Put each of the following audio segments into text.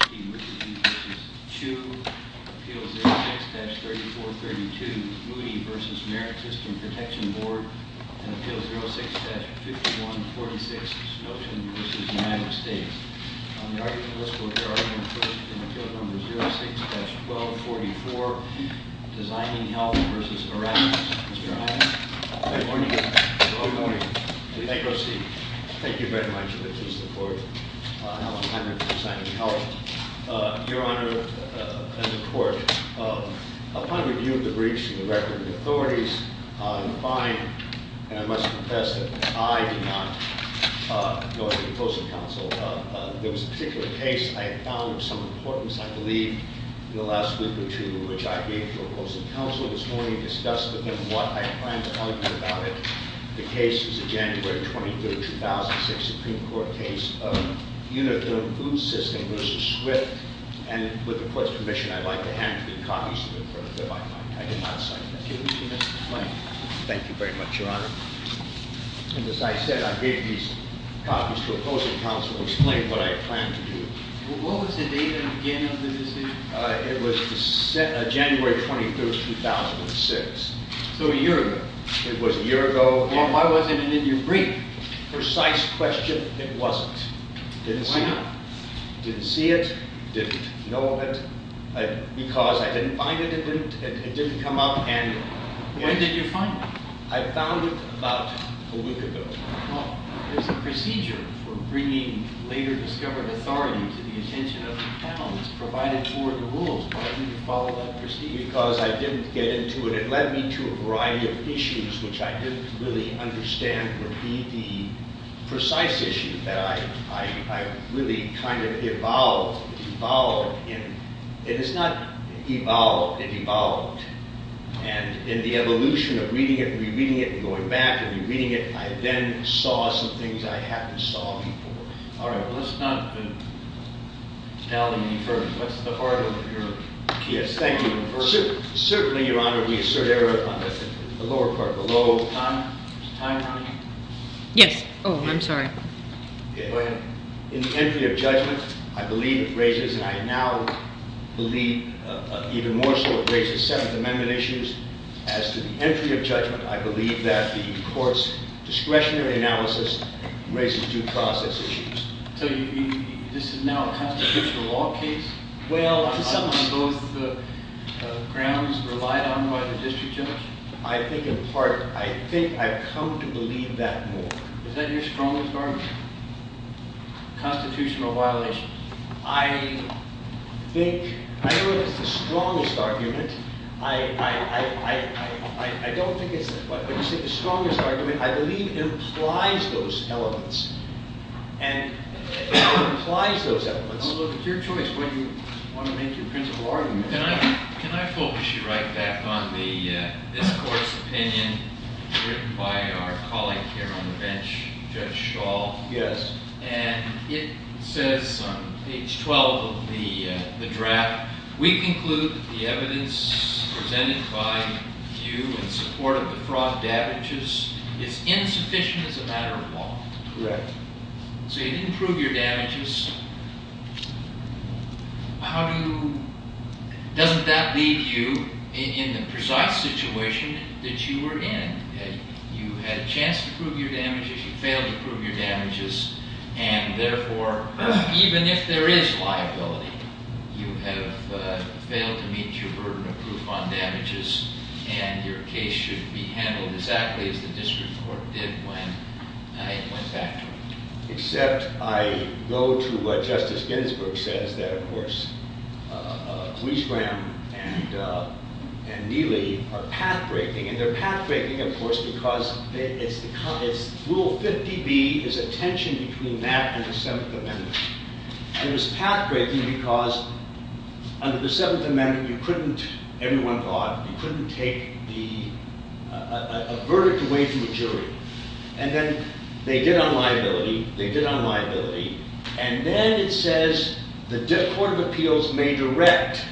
Voting versus Chu, Appeals 06-3432, Moody v. Merrick System Protection Board, and Appeals 06-5146, Snowton v. United States. On the argument list, we'll hear argument first in Appeal Number 06-1244, Designing Health v. Erasmus. Mr. Iren? Good morning. Good morning. Please proceed. Thank you very much. This is the court. I'm a planner for Designing Health. Your Honor and the court, upon review of the breach in the record of authorities, I find, and I must confess that I did not go to the opposing counsel. There was a particular case I found of some importance, I believe, in the last week or two, which I gave to opposing counsel this morning and discussed with him what I plan to tell you about it. The case is a January 23rd, 2006 Supreme Court case of Uniform Food System v. Swift. And with the court's permission, I'd like to hand you the copies of the record, if I might. I did not sign them. Thank you, Mr. Flanagan. Thank you very much, Your Honor. And as I said, I gave these copies to opposing counsel to explain what I plan to do. What was the date and again of the decision? It was January 23rd, 2006. So a year ago. It was a year ago. Well, why wasn't it in your brief? Precise question, it wasn't. Didn't see it. Didn't see it, didn't know of it. Because I didn't find it, it didn't come up. And when did you find it? I found it about a week ago. Well, there's a procedure for bringing later discovered authority to the attention of the counsel. It's provided for in the rules. Why didn't you follow that procedure? Because I didn't get into it. It led me to a variety of issues which I didn't really understand would be the precise issue that I really kind of evolved, evolved in. It is not evolved, it evolved. And in the evolution of reading it and rereading it and going back and rereading it, I then saw some things I hadn't saw before. All right, well, let's not tell you what's the heart of your case. Thank you. Certainly, Your Honor, we assert error on the lower part below. Time, there's a time running. Yes, oh, I'm sorry. Yeah, go ahead. In the entry of judgment, I believe it raises, and I now believe even more so, it raises Seventh Amendment issues. As to the entry of judgment, I believe that the court's discretionary analysis raises due process issues. So this is now a constitutional law case? Well, to some of those grounds relied on by the district judge? I think in part, I think I've come to believe that more. Is that your strongest argument, constitutional violations? I think, I don't know if it's the strongest argument. I don't think it's, when you say the strongest argument, I believe it implies those elements. And it implies those elements. Well, look, it's your choice what you want to make your principal argument. Can I focus you right back on this court's opinion written by our colleague here on the bench, Judge Schall? Yes. And it says on page 12 of the draft, we conclude that the evidence presented by you in support of the fraud damages is insufficient as a matter of law. Correct. So you didn't prove your damages. Doesn't that leave you in the precise situation that you were in? You had a chance to prove your damages, you failed to prove your damages. And therefore, even if there is liability, you have failed to meet your burden of proof on damages. And your case should be handled exactly as the district court did when I went back to it. Except I go to what Justice Ginsburg says that, of course, Queens Graham and Neely are path-breaking. And they're path-breaking, of course, because Rule 50B is a tension between that and the Seventh Amendment. It was path-breaking because under the Seventh Amendment, everyone thought you couldn't take a verdict away from a jury. And then they did on liability, they did on liability. And then it says the Court of Appeals may direct,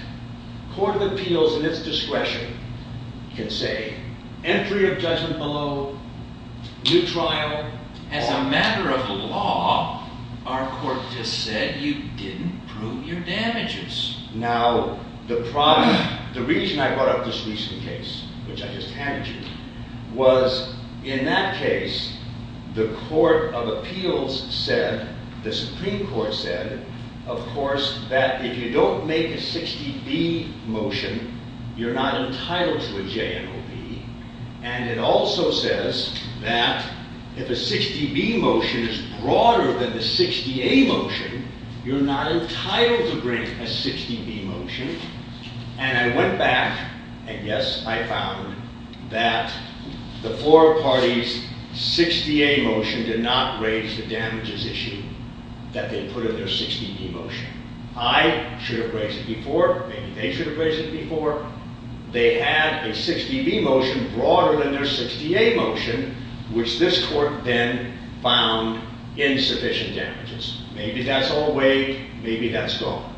Court of Appeals in its discretion can say, entry of judgment below, new trial. As a matter of law, our court just said you didn't prove your damages. Now, the reason I brought up this recent case, which I just handed you, was in that case, the Court of Appeals said, the Supreme Court said, of course, that if you don't make a 60B motion, you're not entitled to a JNOB. And it also says that if a 60B motion is broader than the 60A motion, you're not entitled to bring a 60B motion. And I went back, and yes, I found that the four parties' 60A motion did not raise the damages issue that they put in their 60B motion. I should have raised it before, maybe they should have raised it before. They had a 60B motion broader than their 60A motion, which this court then found insufficient damages. Maybe that's all weighed, maybe that's gone.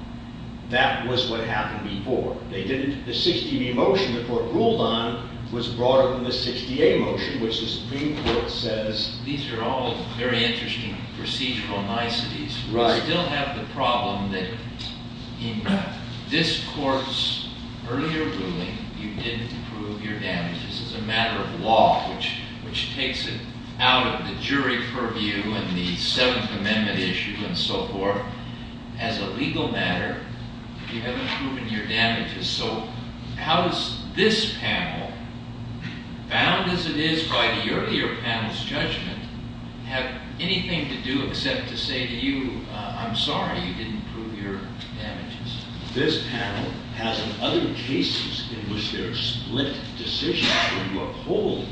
That was what happened before. They didn't, the 60B motion the court ruled on was broader than the 60A motion, which the Supreme Court says- These are all very interesting procedural niceties. Right. We still have the problem that in this court's earlier ruling, you didn't prove your damages. As a matter of law, which takes it out of the jury purview and the Seventh Amendment issue and so forth, as a legal matter, you haven't proven your damages. So how does this panel, bound as it is by the earlier panel's judgment, have anything to do except to say to you, I'm sorry, you didn't prove your damages. This panel has in other cases in which there are split decisions where you uphold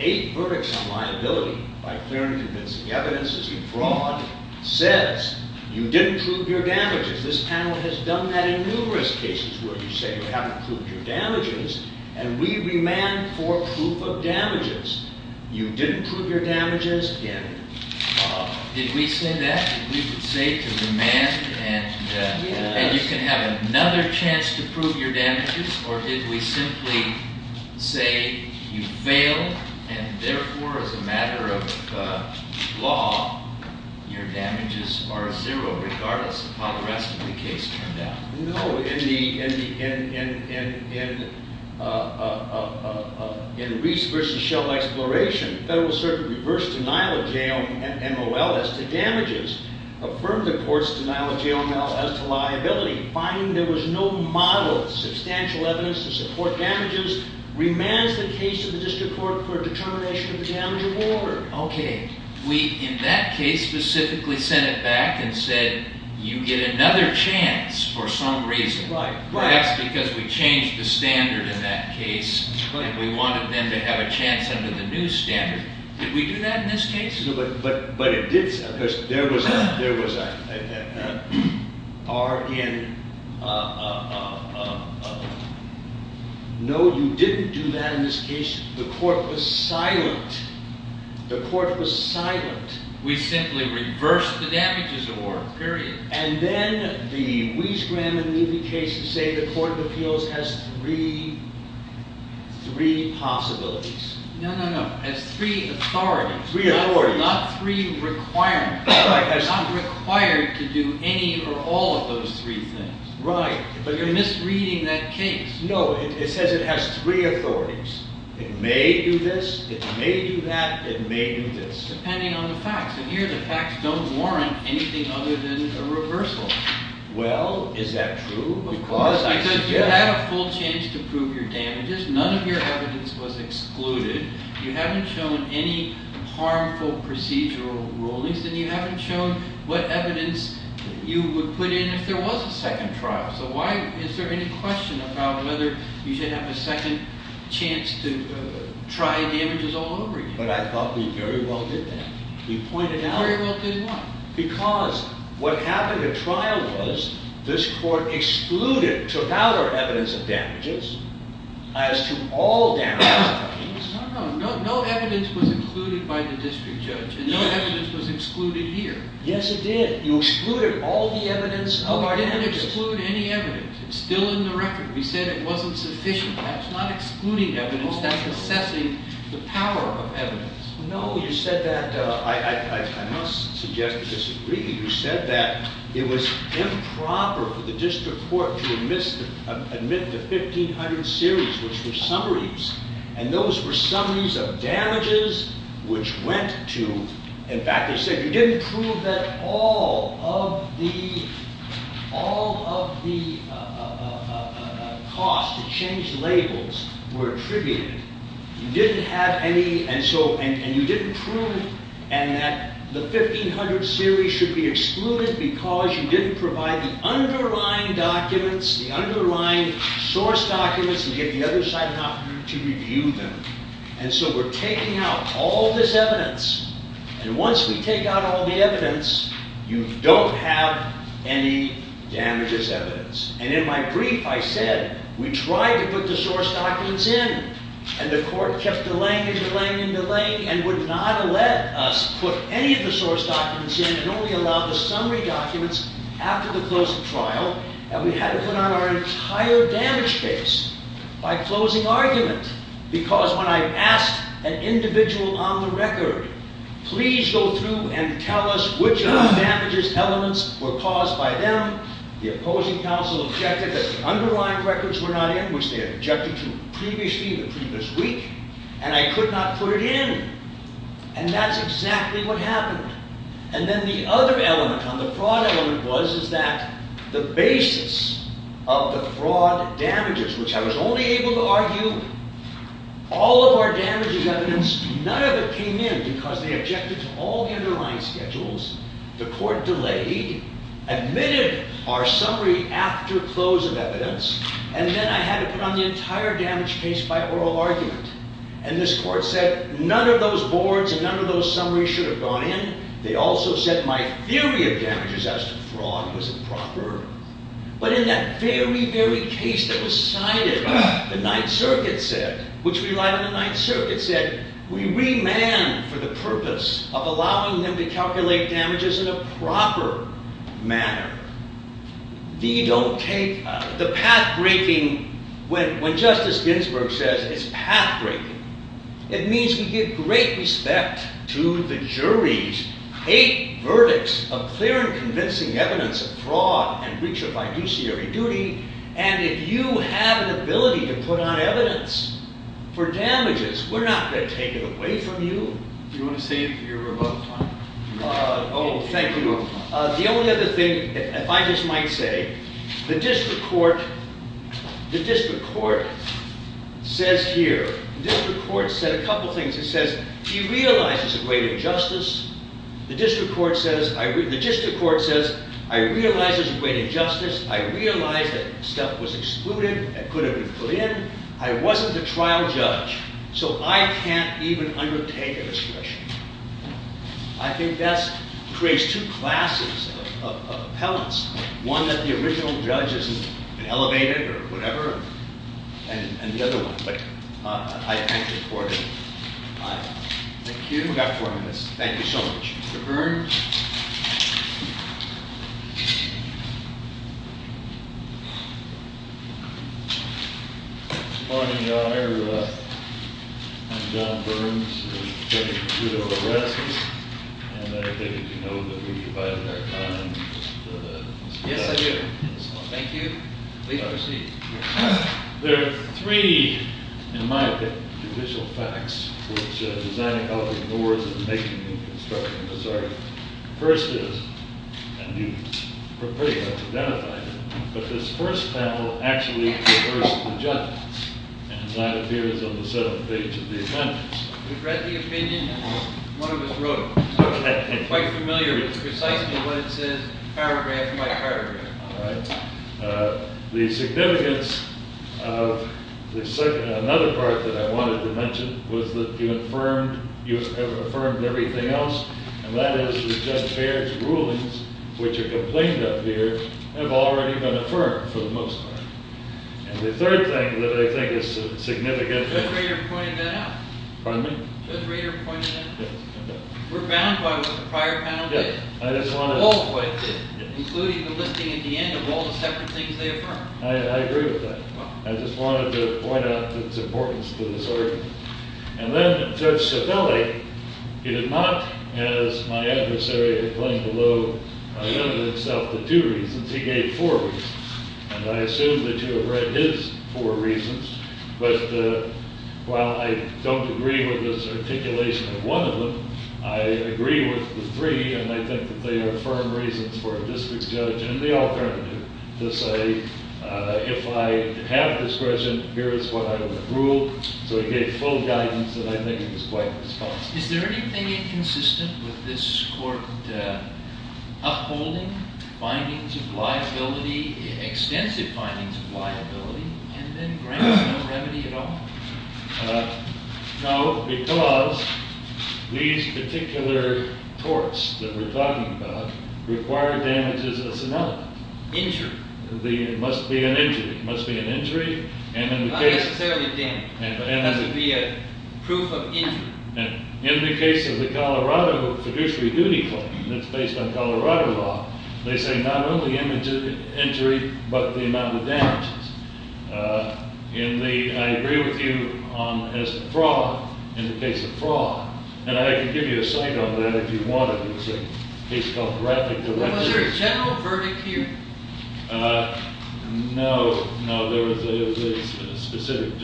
eight verdicts on liability by clear and convincing evidence as you fraud says, you didn't prove your damages. This panel has done that in numerous cases where you say you haven't proved your damages. And we remand for proof of damages. You didn't prove your damages, again. Did we say that? Did we say to remand and you can have another chance to prove your damages? Or did we simply say you failed, and therefore, as a matter of law, your damages are at zero, regardless of how the rest of the case turned out? No, in Reese versus Shell Exploration, Federal Circuit reversed denial of JOML as to damages, affirmed the court's denial of JOML as to liability, finding there was no model of substantial evidence to support damages, remands the case of the district court for determination of the damage of order. Okay. We, in that case, specifically sent it back and said, you get another chance for some reason, but that's because we changed the standard in that case, and we wanted them to have a chance under the new standard. Did we do that in this case? But it did so, because there was a R in. No, you didn't do that in this case. The court was silent. The court was silent. We simply reversed the damages award, period. And then, the Reese, Graham, and Meadley cases say the court of appeals has three possibilities. No, no, no. As three authorities. Not three requirements. Not required to do any or all of those three things. Right. But you're misreading that case. No, it says it has three authorities. It may do this, it may do that, it may do this. Depending on the facts. And here, the facts don't warrant anything other than a reversal. Well, is that true? Because I suggest- Because you had a full chance to prove your damages. None of your evidence was excluded. You haven't shown any harmful procedural rulings. And you haven't shown what evidence you would put in if there was a second trial. So why, is there any question about whether you should have a second chance to try damages all over again? But I thought we very well did that. We pointed out- Very well did what? Because what happened at trial was, this court excluded, took out our evidence of No, no evidence was included by the district judge. And no evidence was excluded here. Yes, it did. You excluded all the evidence of our damages. We didn't exclude any evidence. It's still in the record. We said it wasn't sufficient. That's not excluding evidence. That's assessing the power of evidence. No, you said that, I must suggest you disagree. You said that it was improper for the district court to admit to 1,500 series, which were summaries. And those were summaries of damages, which went to, in fact, they said you didn't prove that all of the cost to change labels were attributed. You didn't have any, and you didn't prove that the 1,500 series should be excluded because you didn't provide the underlying documents, the underlying source documents, and get the other side not to review them. And so we're taking out all this evidence. And once we take out all the evidence, you don't have any damages evidence. And in my brief, I said, we tried to put the source documents in. And the court kept delaying and delaying and delaying, and would not let us put any of the source documents in, and only allowed the summary documents after the close of trial. And we had to put on our entire damage case by closing argument. Because when I asked an individual on the record, please go through and tell us which of the damages elements were caused by them, the opposing counsel objected that the underlying records were not in, which they had objected to previously in the previous week. And I could not put it in. And that's exactly what happened. And then the other element, on the fraud element was, is that the basis of the fraud damages, which I was only able to argue, all of our damages evidence, none of it came in, because they objected to all the underlying schedules. The court delayed, admitted our summary after close of evidence, and then I had to put on the entire damage case by oral argument. And this court said, none of those boards and none of those summaries should have gone in. They also said my theory of damages as to fraud was improper. But in that very, very case that was cited, the Ninth Circuit said, which relied on the Ninth Circuit, said we remand for the purpose of allowing them to calculate damages in a proper manner. We don't take the path breaking, when Justice Ginsburg says it's path breaking, it means we give great respect to the jury's hate verdicts of clear and convincing evidence of fraud and breach of fiduciary duty. And if you have an ability to put on evidence for damages, we're not going to take it away from you. You want to say you're above the line? Oh, thank you. The only other thing, if I just might say, the district court says here, district court said a couple things. It says, he realizes a great injustice. The district court says, I realize there's a great injustice. I realize that stuff was excluded and couldn't be put in. I wasn't the trial judge. So I can't even undertake a discretion. I think that creates two classes of appellants, one that the original judge isn't elevated or whatever, and the other one. I thank the court. Thank you. We've got four minutes. Thank you so much. Mr. Burns? Good morning, Your Honor. I'm John Burns. I'm taking a two-hour rest. And I take it you know that we've divided our time. Yes, I do. Thank you. Please proceed. There are three, in my opinion, judicial facts which Design and Health ignores in making the construction of this article. First is, and you've pretty much identified it, but this first panel actually reversed the judge. And that appears on the seventh page of the appendix. We've read the opinion, and one of us wrote it. Quite familiar with precisely what it says, paragraph by paragraph. All right. The significance of another part that I wanted to mention was that you have affirmed everything else. And that is that Judge Baird's rulings, which are complained of here, have already been affirmed, for the most part. And the third thing that I think is significant. Judge Rader pointed that out. Pardon me? Judge Rader pointed that out. We're bound by what the prior panel did, all of what it did, including the listing at the end of all the separate things they affirmed. I agree with that. I just wanted to point out its importance to this article. And then Judge Cevelli, he did not, as my adversary had claimed below, limit himself to two reasons. He gave four reasons. And I assume that you have read his four reasons. But while I don't agree with his articulation of one of them, I agree with the three. And I think that they are firm reasons for a district judge and the alternative to say, if I have discretion, here is what I would rule. So he gave full guidance. And I think he was quite responsive. Is there anything inconsistent with this court upholding findings of liability, extensive findings of liability, and then grants no remedy at all? No, because these particular torts that we're talking about require damages of some element. Injury. It must be an injury. It must be an injury. And in the case of the Colorado fiduciary duty claim that's based on Colorado law, they say not only injury, but the amount of damages. And I agree with you as to fraud in the case of fraud. And I can give you a cite on that if you want it. It's a case called the Rafferty Directive. Was there a general verdict here? No. No, there was a specific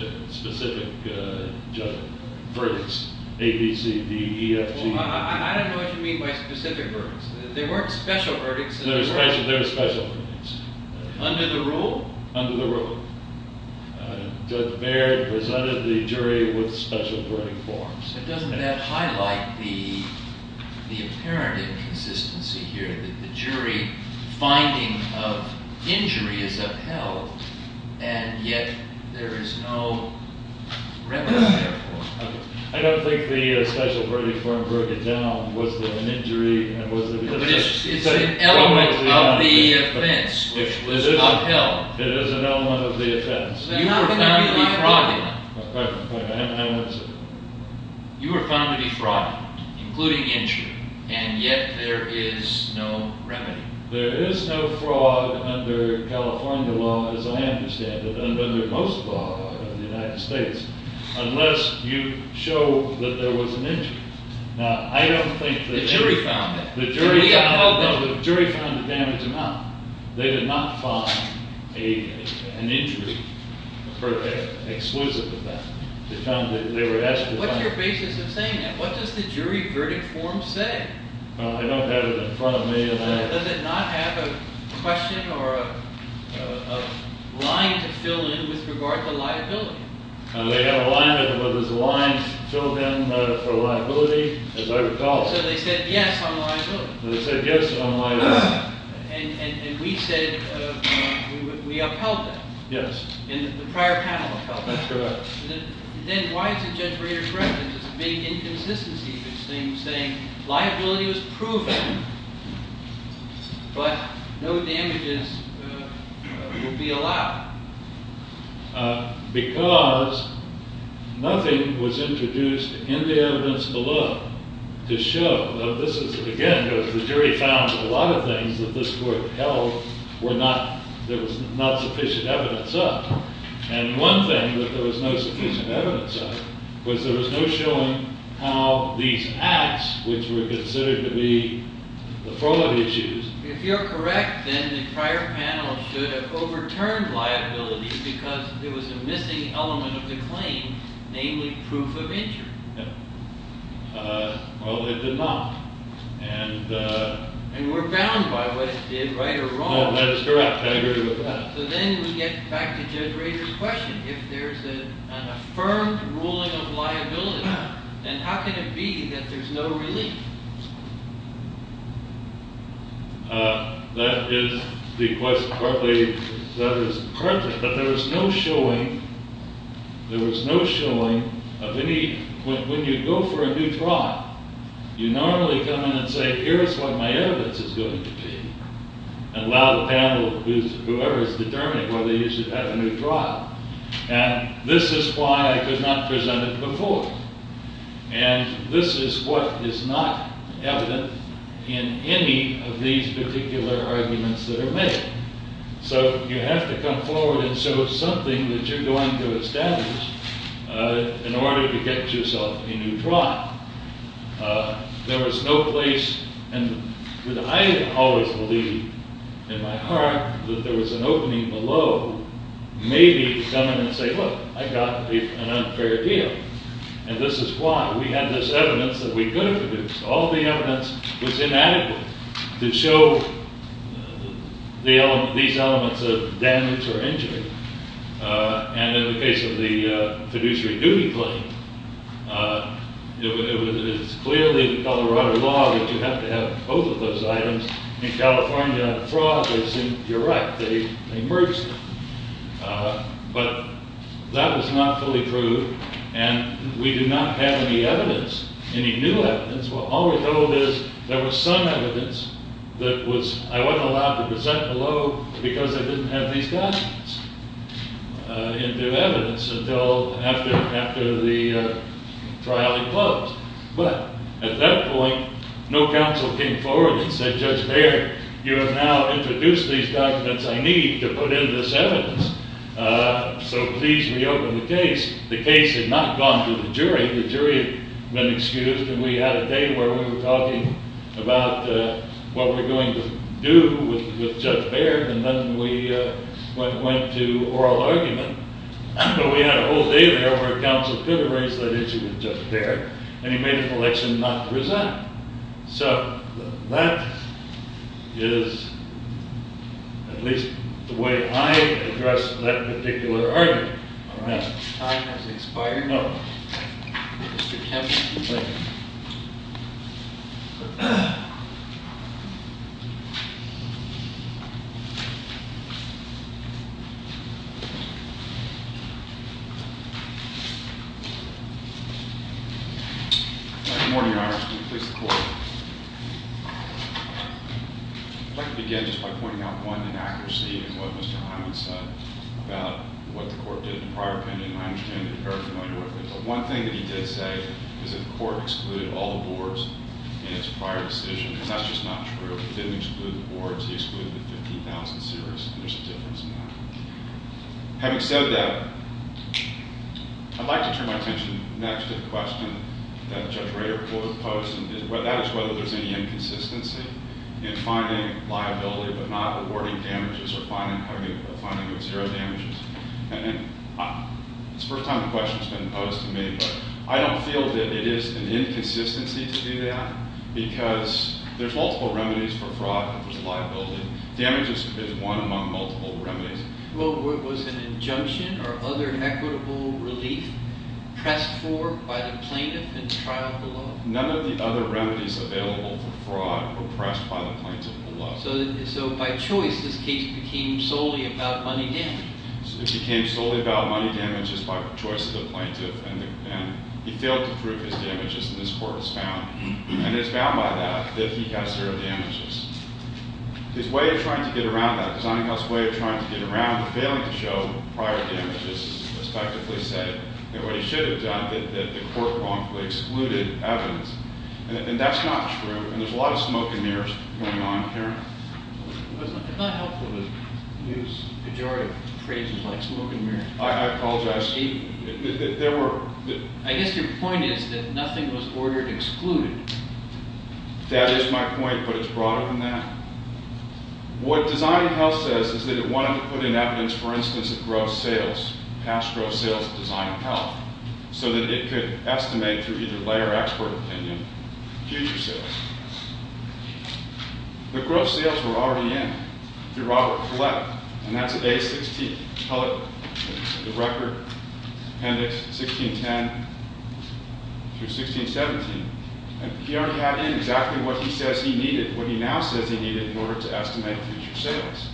verdicts, A, B, C, D, E, F, G, E, F, G. Well, I don't know what you mean by specific verdicts. There weren't special verdicts. There were special verdicts. Under the rule? Under the rule. Judge Baird presented the jury with special verdict forms. But doesn't that highlight the apparent inconsistency here, that the jury finding of injury is upheld, and yet there is no remedy there for it? I don't think the special verdict form broke it down. Was there an injury? And was there a defense? It's an element of the offense, which was upheld. It is an element of the offense. You were found to be fraudulent. I'm sorry, I didn't answer. You were found to be fraudulent, including injury. And yet there is no remedy. There is no fraud under California law, as I understand it, and under most law in the United States, unless you show that there was an injury. Now, I don't think that the jury found it. No, the jury found the damage amount. They did not find an injury exclusive of that. They were asked to find it. What's your basis of saying that? What does the jury verdict form say? I don't have it in front of me. Does it not have a question or a line to fill in with regard to liability? They had a line. There was a line filled in for liability, as I recall. So they said yes on liability. So they said yes on liability. And we said we upheld that. Yes. And the prior panel upheld that. That's correct. Then why is it, Judge Breyer, correct, that there's a big inconsistency in this thing, saying liability was proven, but no damages will be allowed? Because nothing was introduced in the evidence below to show that this is, again, because the jury found that a lot of things that this court held, there was not sufficient evidence of. And one thing that there was no sufficient evidence of was there was no showing how these acts, which were considered to be the fraud issues. If you're correct, then the prior panel should have overturned liability because there was a missing element of the claim, namely proof of injury. Well, they did not. And we're bound by whether it's right or wrong. That is correct. I agree with that. So then we get back to Judge Rader's question. If there's an affirmed ruling of liability, then how can it be that there's no relief? That is the question. That is correct. But there was no showing of any. When you go for a new trial, you normally come in and say, here's what my evidence is going to be, and allow the panel, whoever is determining whether you should have a new trial. And this is why I could not present it before. And this is what is not evident in any of these particular arguments that are made. So you have to come forward and show something that you're going to establish in order to get yourself a new trial. There was no place. And I always believed in my heart that there was an opening below, maybe to come in and say, look, I got an unfair deal. And this is why. We had this evidence that we could have produced. All the evidence was inadequate to show these elements of damage or injury. And in the case of the fiduciary duty claim, it is clearly Colorado law that you have to have both of those items. In California, the fraud is indirect. They merged them. But that was not fully proved. And we do not have any evidence, any new evidence, all we're told is there was some evidence that I wasn't allowed to present below because I didn't have these documents into evidence until after the trial had closed. But at that point, no counsel came forward and said, Judge Baird, you have now introduced these documents. I need to put in this evidence. So please reopen the case. The case had not gone to the jury. The jury had been excused. And we had a day where we were talking about what we're going to do with Judge Baird. And then we went to oral argument. But we had a whole day there where counsel could have raised that issue with Judge Baird. And he made an election not to present. So that is at least the way I address that particular argument. All right. Time has expired. No. Mr. Kemp. Thank you. Good morning, Your Honor. Can we please have the court? I'd like to begin just by pointing out one inaccuracy in what Mr. Hyman said about what the court did in the prior opinion. And I understand that you're very familiar with it. But one thing that he did say is that the court excluded all the boards in its prior decision. And that's just not true. It didn't exclude the boards. He excluded the 50,000 series. And there's a difference in that. Having said that, I'd like to turn my attention next to the question that Judge Rader posed. And that is whether there's any inconsistency in finding liability but not awarding damages or finding zero damages. And it's the first time the question's been posed to me. But I don't feel that it is an inconsistency to do that. Because there's multiple remedies for fraud if there's a liability. Damage is one among multiple remedies. Well, was an injunction or other equitable relief pressed for by the plaintiff in the trial below? None of the other remedies available for fraud were pressed by the plaintiff below. So by choice, this case became solely about money damage. It became solely about money damages by choice of the plaintiff. And he failed to prove his damages. And this court is found. And it's found by that that he got zero damages. His way of trying to get around that, Zonico's way of trying to get around the failing to show prior damages, respectively, said that what he should have done, that the court wrongfully excluded evidence. And that's not true. And there's a lot of smoke and mirrors going on here. It's not helpful to use pejorative phrases like smoke and mirrors. I apologize. I guess your point is that nothing was ordered excluded. That is my point. But it's broader than that. What designing health says is that it wanted to put in evidence, for instance, of gross sales, past gross sales of design of health, so that it could estimate through either lay or expert opinion future sales. The gross sales were already in through Robert Flett. And that's A-16. Tell it the record, appendix 1610 through 1617. And he already had in exactly what he says he needed, what he now says he needed, in order to estimate future sales.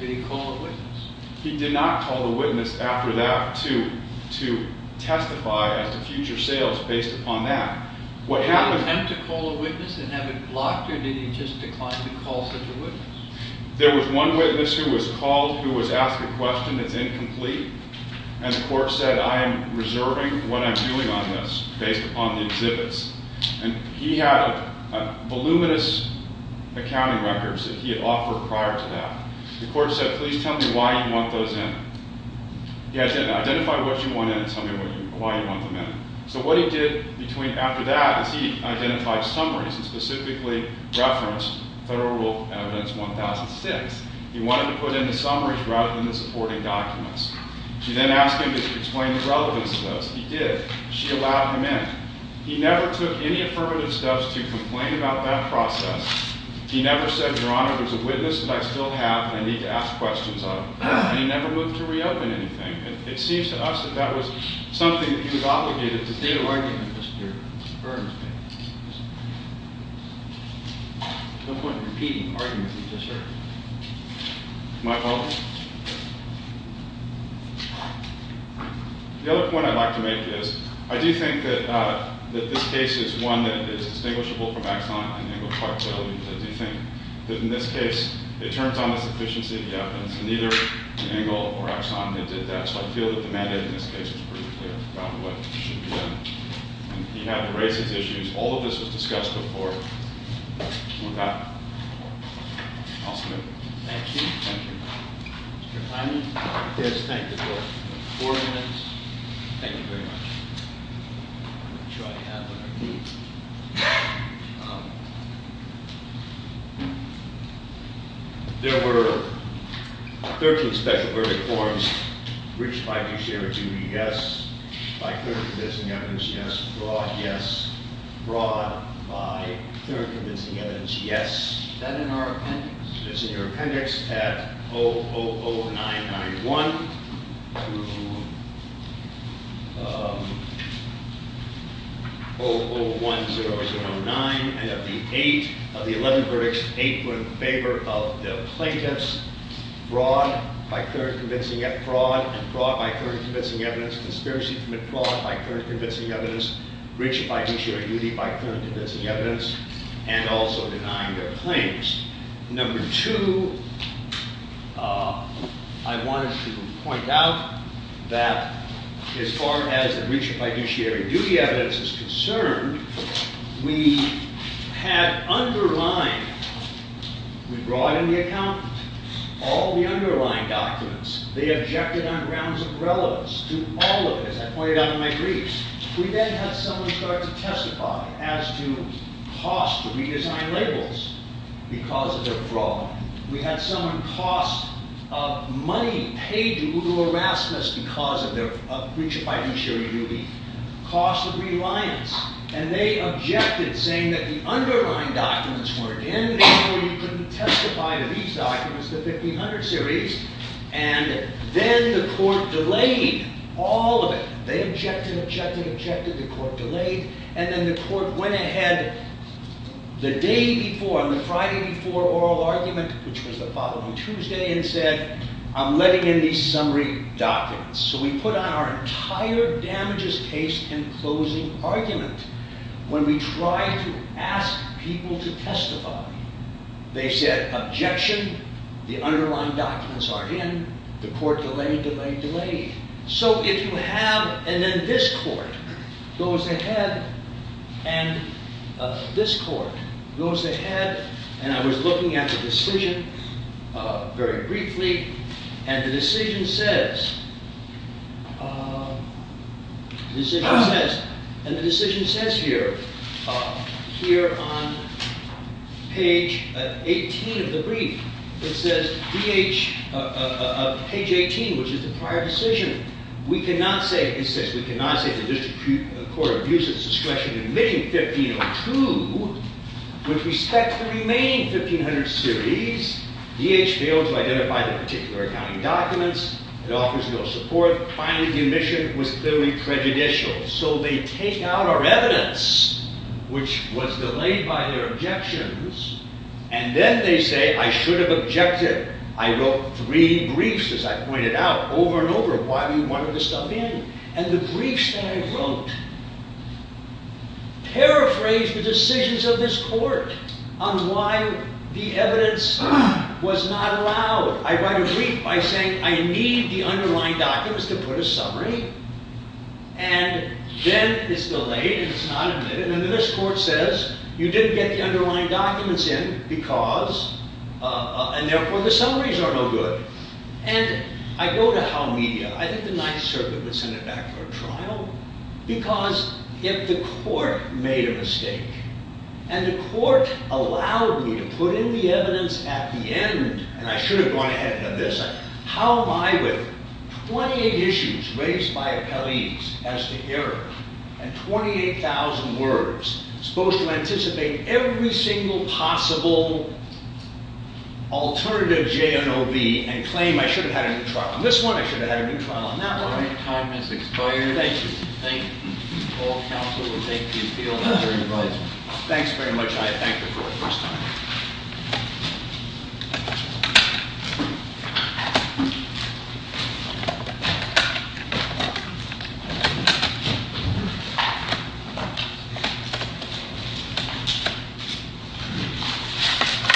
He didn't call the witness. He did not call the witness after that to testify as to future sales based upon that. Did he attempt to call a witness and have it blocked? Or did he just decline to call such a witness? There was one witness who was called who was asked a question that's incomplete. And the court said, I am reserving what I'm doing on this based upon the exhibits. And he had voluminous accounting records that he had offered prior to that. The court said, please tell me why you want those in. Identify what you want in and tell me why you want them in. So what he did after that is he identified summaries and specifically referenced Federal Rule Evidence 1006. He wanted to put in the summaries rather than the supporting documents. She then asked him to explain the relevance of those. He did. She allowed him in. He never took any affirmative steps to complain about that process. He never said, Your Honor, there's a witness that I still have that I need to ask questions of. And he never moved to reopen anything. And it seems to us that that was something that he was obligated to do. There's no point in repeating the argument that you just heard. My fault? The other point I'd like to make is, I do think that this case is one that is distinguishable from axiomically negligent liability. But I do think that in this case, it turns on the sufficiency of the evidence. And neither Engel or Axan did that. So I feel that the mandate in this case is pretty clear about what should be done. And he had to raise his issues. All of this was discussed before. With that, I'll submit. Thank you. Thank you. Mr. Hyman? Yes. Thank you for four minutes. Thank you very much. I'll make sure I have what I need. There were 13 special verdict forms, which I do share it to be yes. By clear and convincing evidence, yes. Broad, yes. Broad by clear and convincing evidence, yes. Is that in our appendix? It's in your appendix at 000991 to 001009. And of the eight, of the 11 verdicts, eight were in favor of the plaintiffs. Broad by clear and convincing evidence. Broad and broad by clear and convincing evidence. Conspiracy from it. Broad by clear and convincing evidence. Breach of fiduciary duty by clear and convincing evidence. And also denying their claims. Number two, I wanted to point out that as far as the breach of fiduciary duty evidence is concerned, we had underlined, we brought in the accountant, all the underlying documents. They objected on grounds of relevance to all of it, as I pointed out in my briefs. We then had someone start to testify as to cost to redesign labels because of their fraud. We had someone cost money paid to Google Erasmus because of their breach of fiduciary duty. Cost of reliance. And they objected, saying that the underlying documents weren't in, and therefore you couldn't testify to these documents, the 1500 series. And then the court delayed all of it. They objected, objected, objected. The court delayed. And then the court went ahead the day before, on the Friday before oral argument, which was the following Tuesday, and said, I'm letting in these summary documents. So we put on our entire damages case and closing argument when we tried to ask people to testify. They said, objection. The underlying documents aren't in. The court delayed, delayed, delayed. So if you have, and then this court goes ahead, and this court goes ahead. And I was looking at the decision very briefly. And the decision says here, here on page 18 of the brief, it says, page 18, which is the prior decision. We cannot say, it says, we cannot say the district court abuses discretion in admitting 1502, with respect to the remaining 1500 series, DH failed to identify the particular accounting documents. It offers no support. Finally, the admission was clearly prejudicial. So they take out our evidence, which was delayed by their objections. And then they say, I should have objected. I wrote three briefs, as I pointed out, over and over, of why we wanted this stuff in. And the briefs that I wrote paraphrased the decisions of this court on why the evidence was not allowed. I write a brief by saying, I need the underlying documents to put a summary. And then it's delayed, and it's not admitted. And then this court says, you didn't get the underlying documents in, because, and therefore, the summaries are no good. And I go to Howe Media. I think the Ninth Circuit would send it back for a trial. Because if the court made a mistake, and the court allowed me to put in the evidence at the end, and I should have gone ahead and done this, how am I, with 28 issues raised by appellees as to error, and 28,000 words, supposed to anticipate every single possible alternative JNOV, and claim I should have had a new trial on this one, I should have had a new trial on that one. Your time has expired. Thank you. Thank you. All counsel will take the appeal. Thanks very much. I thank you for the first time.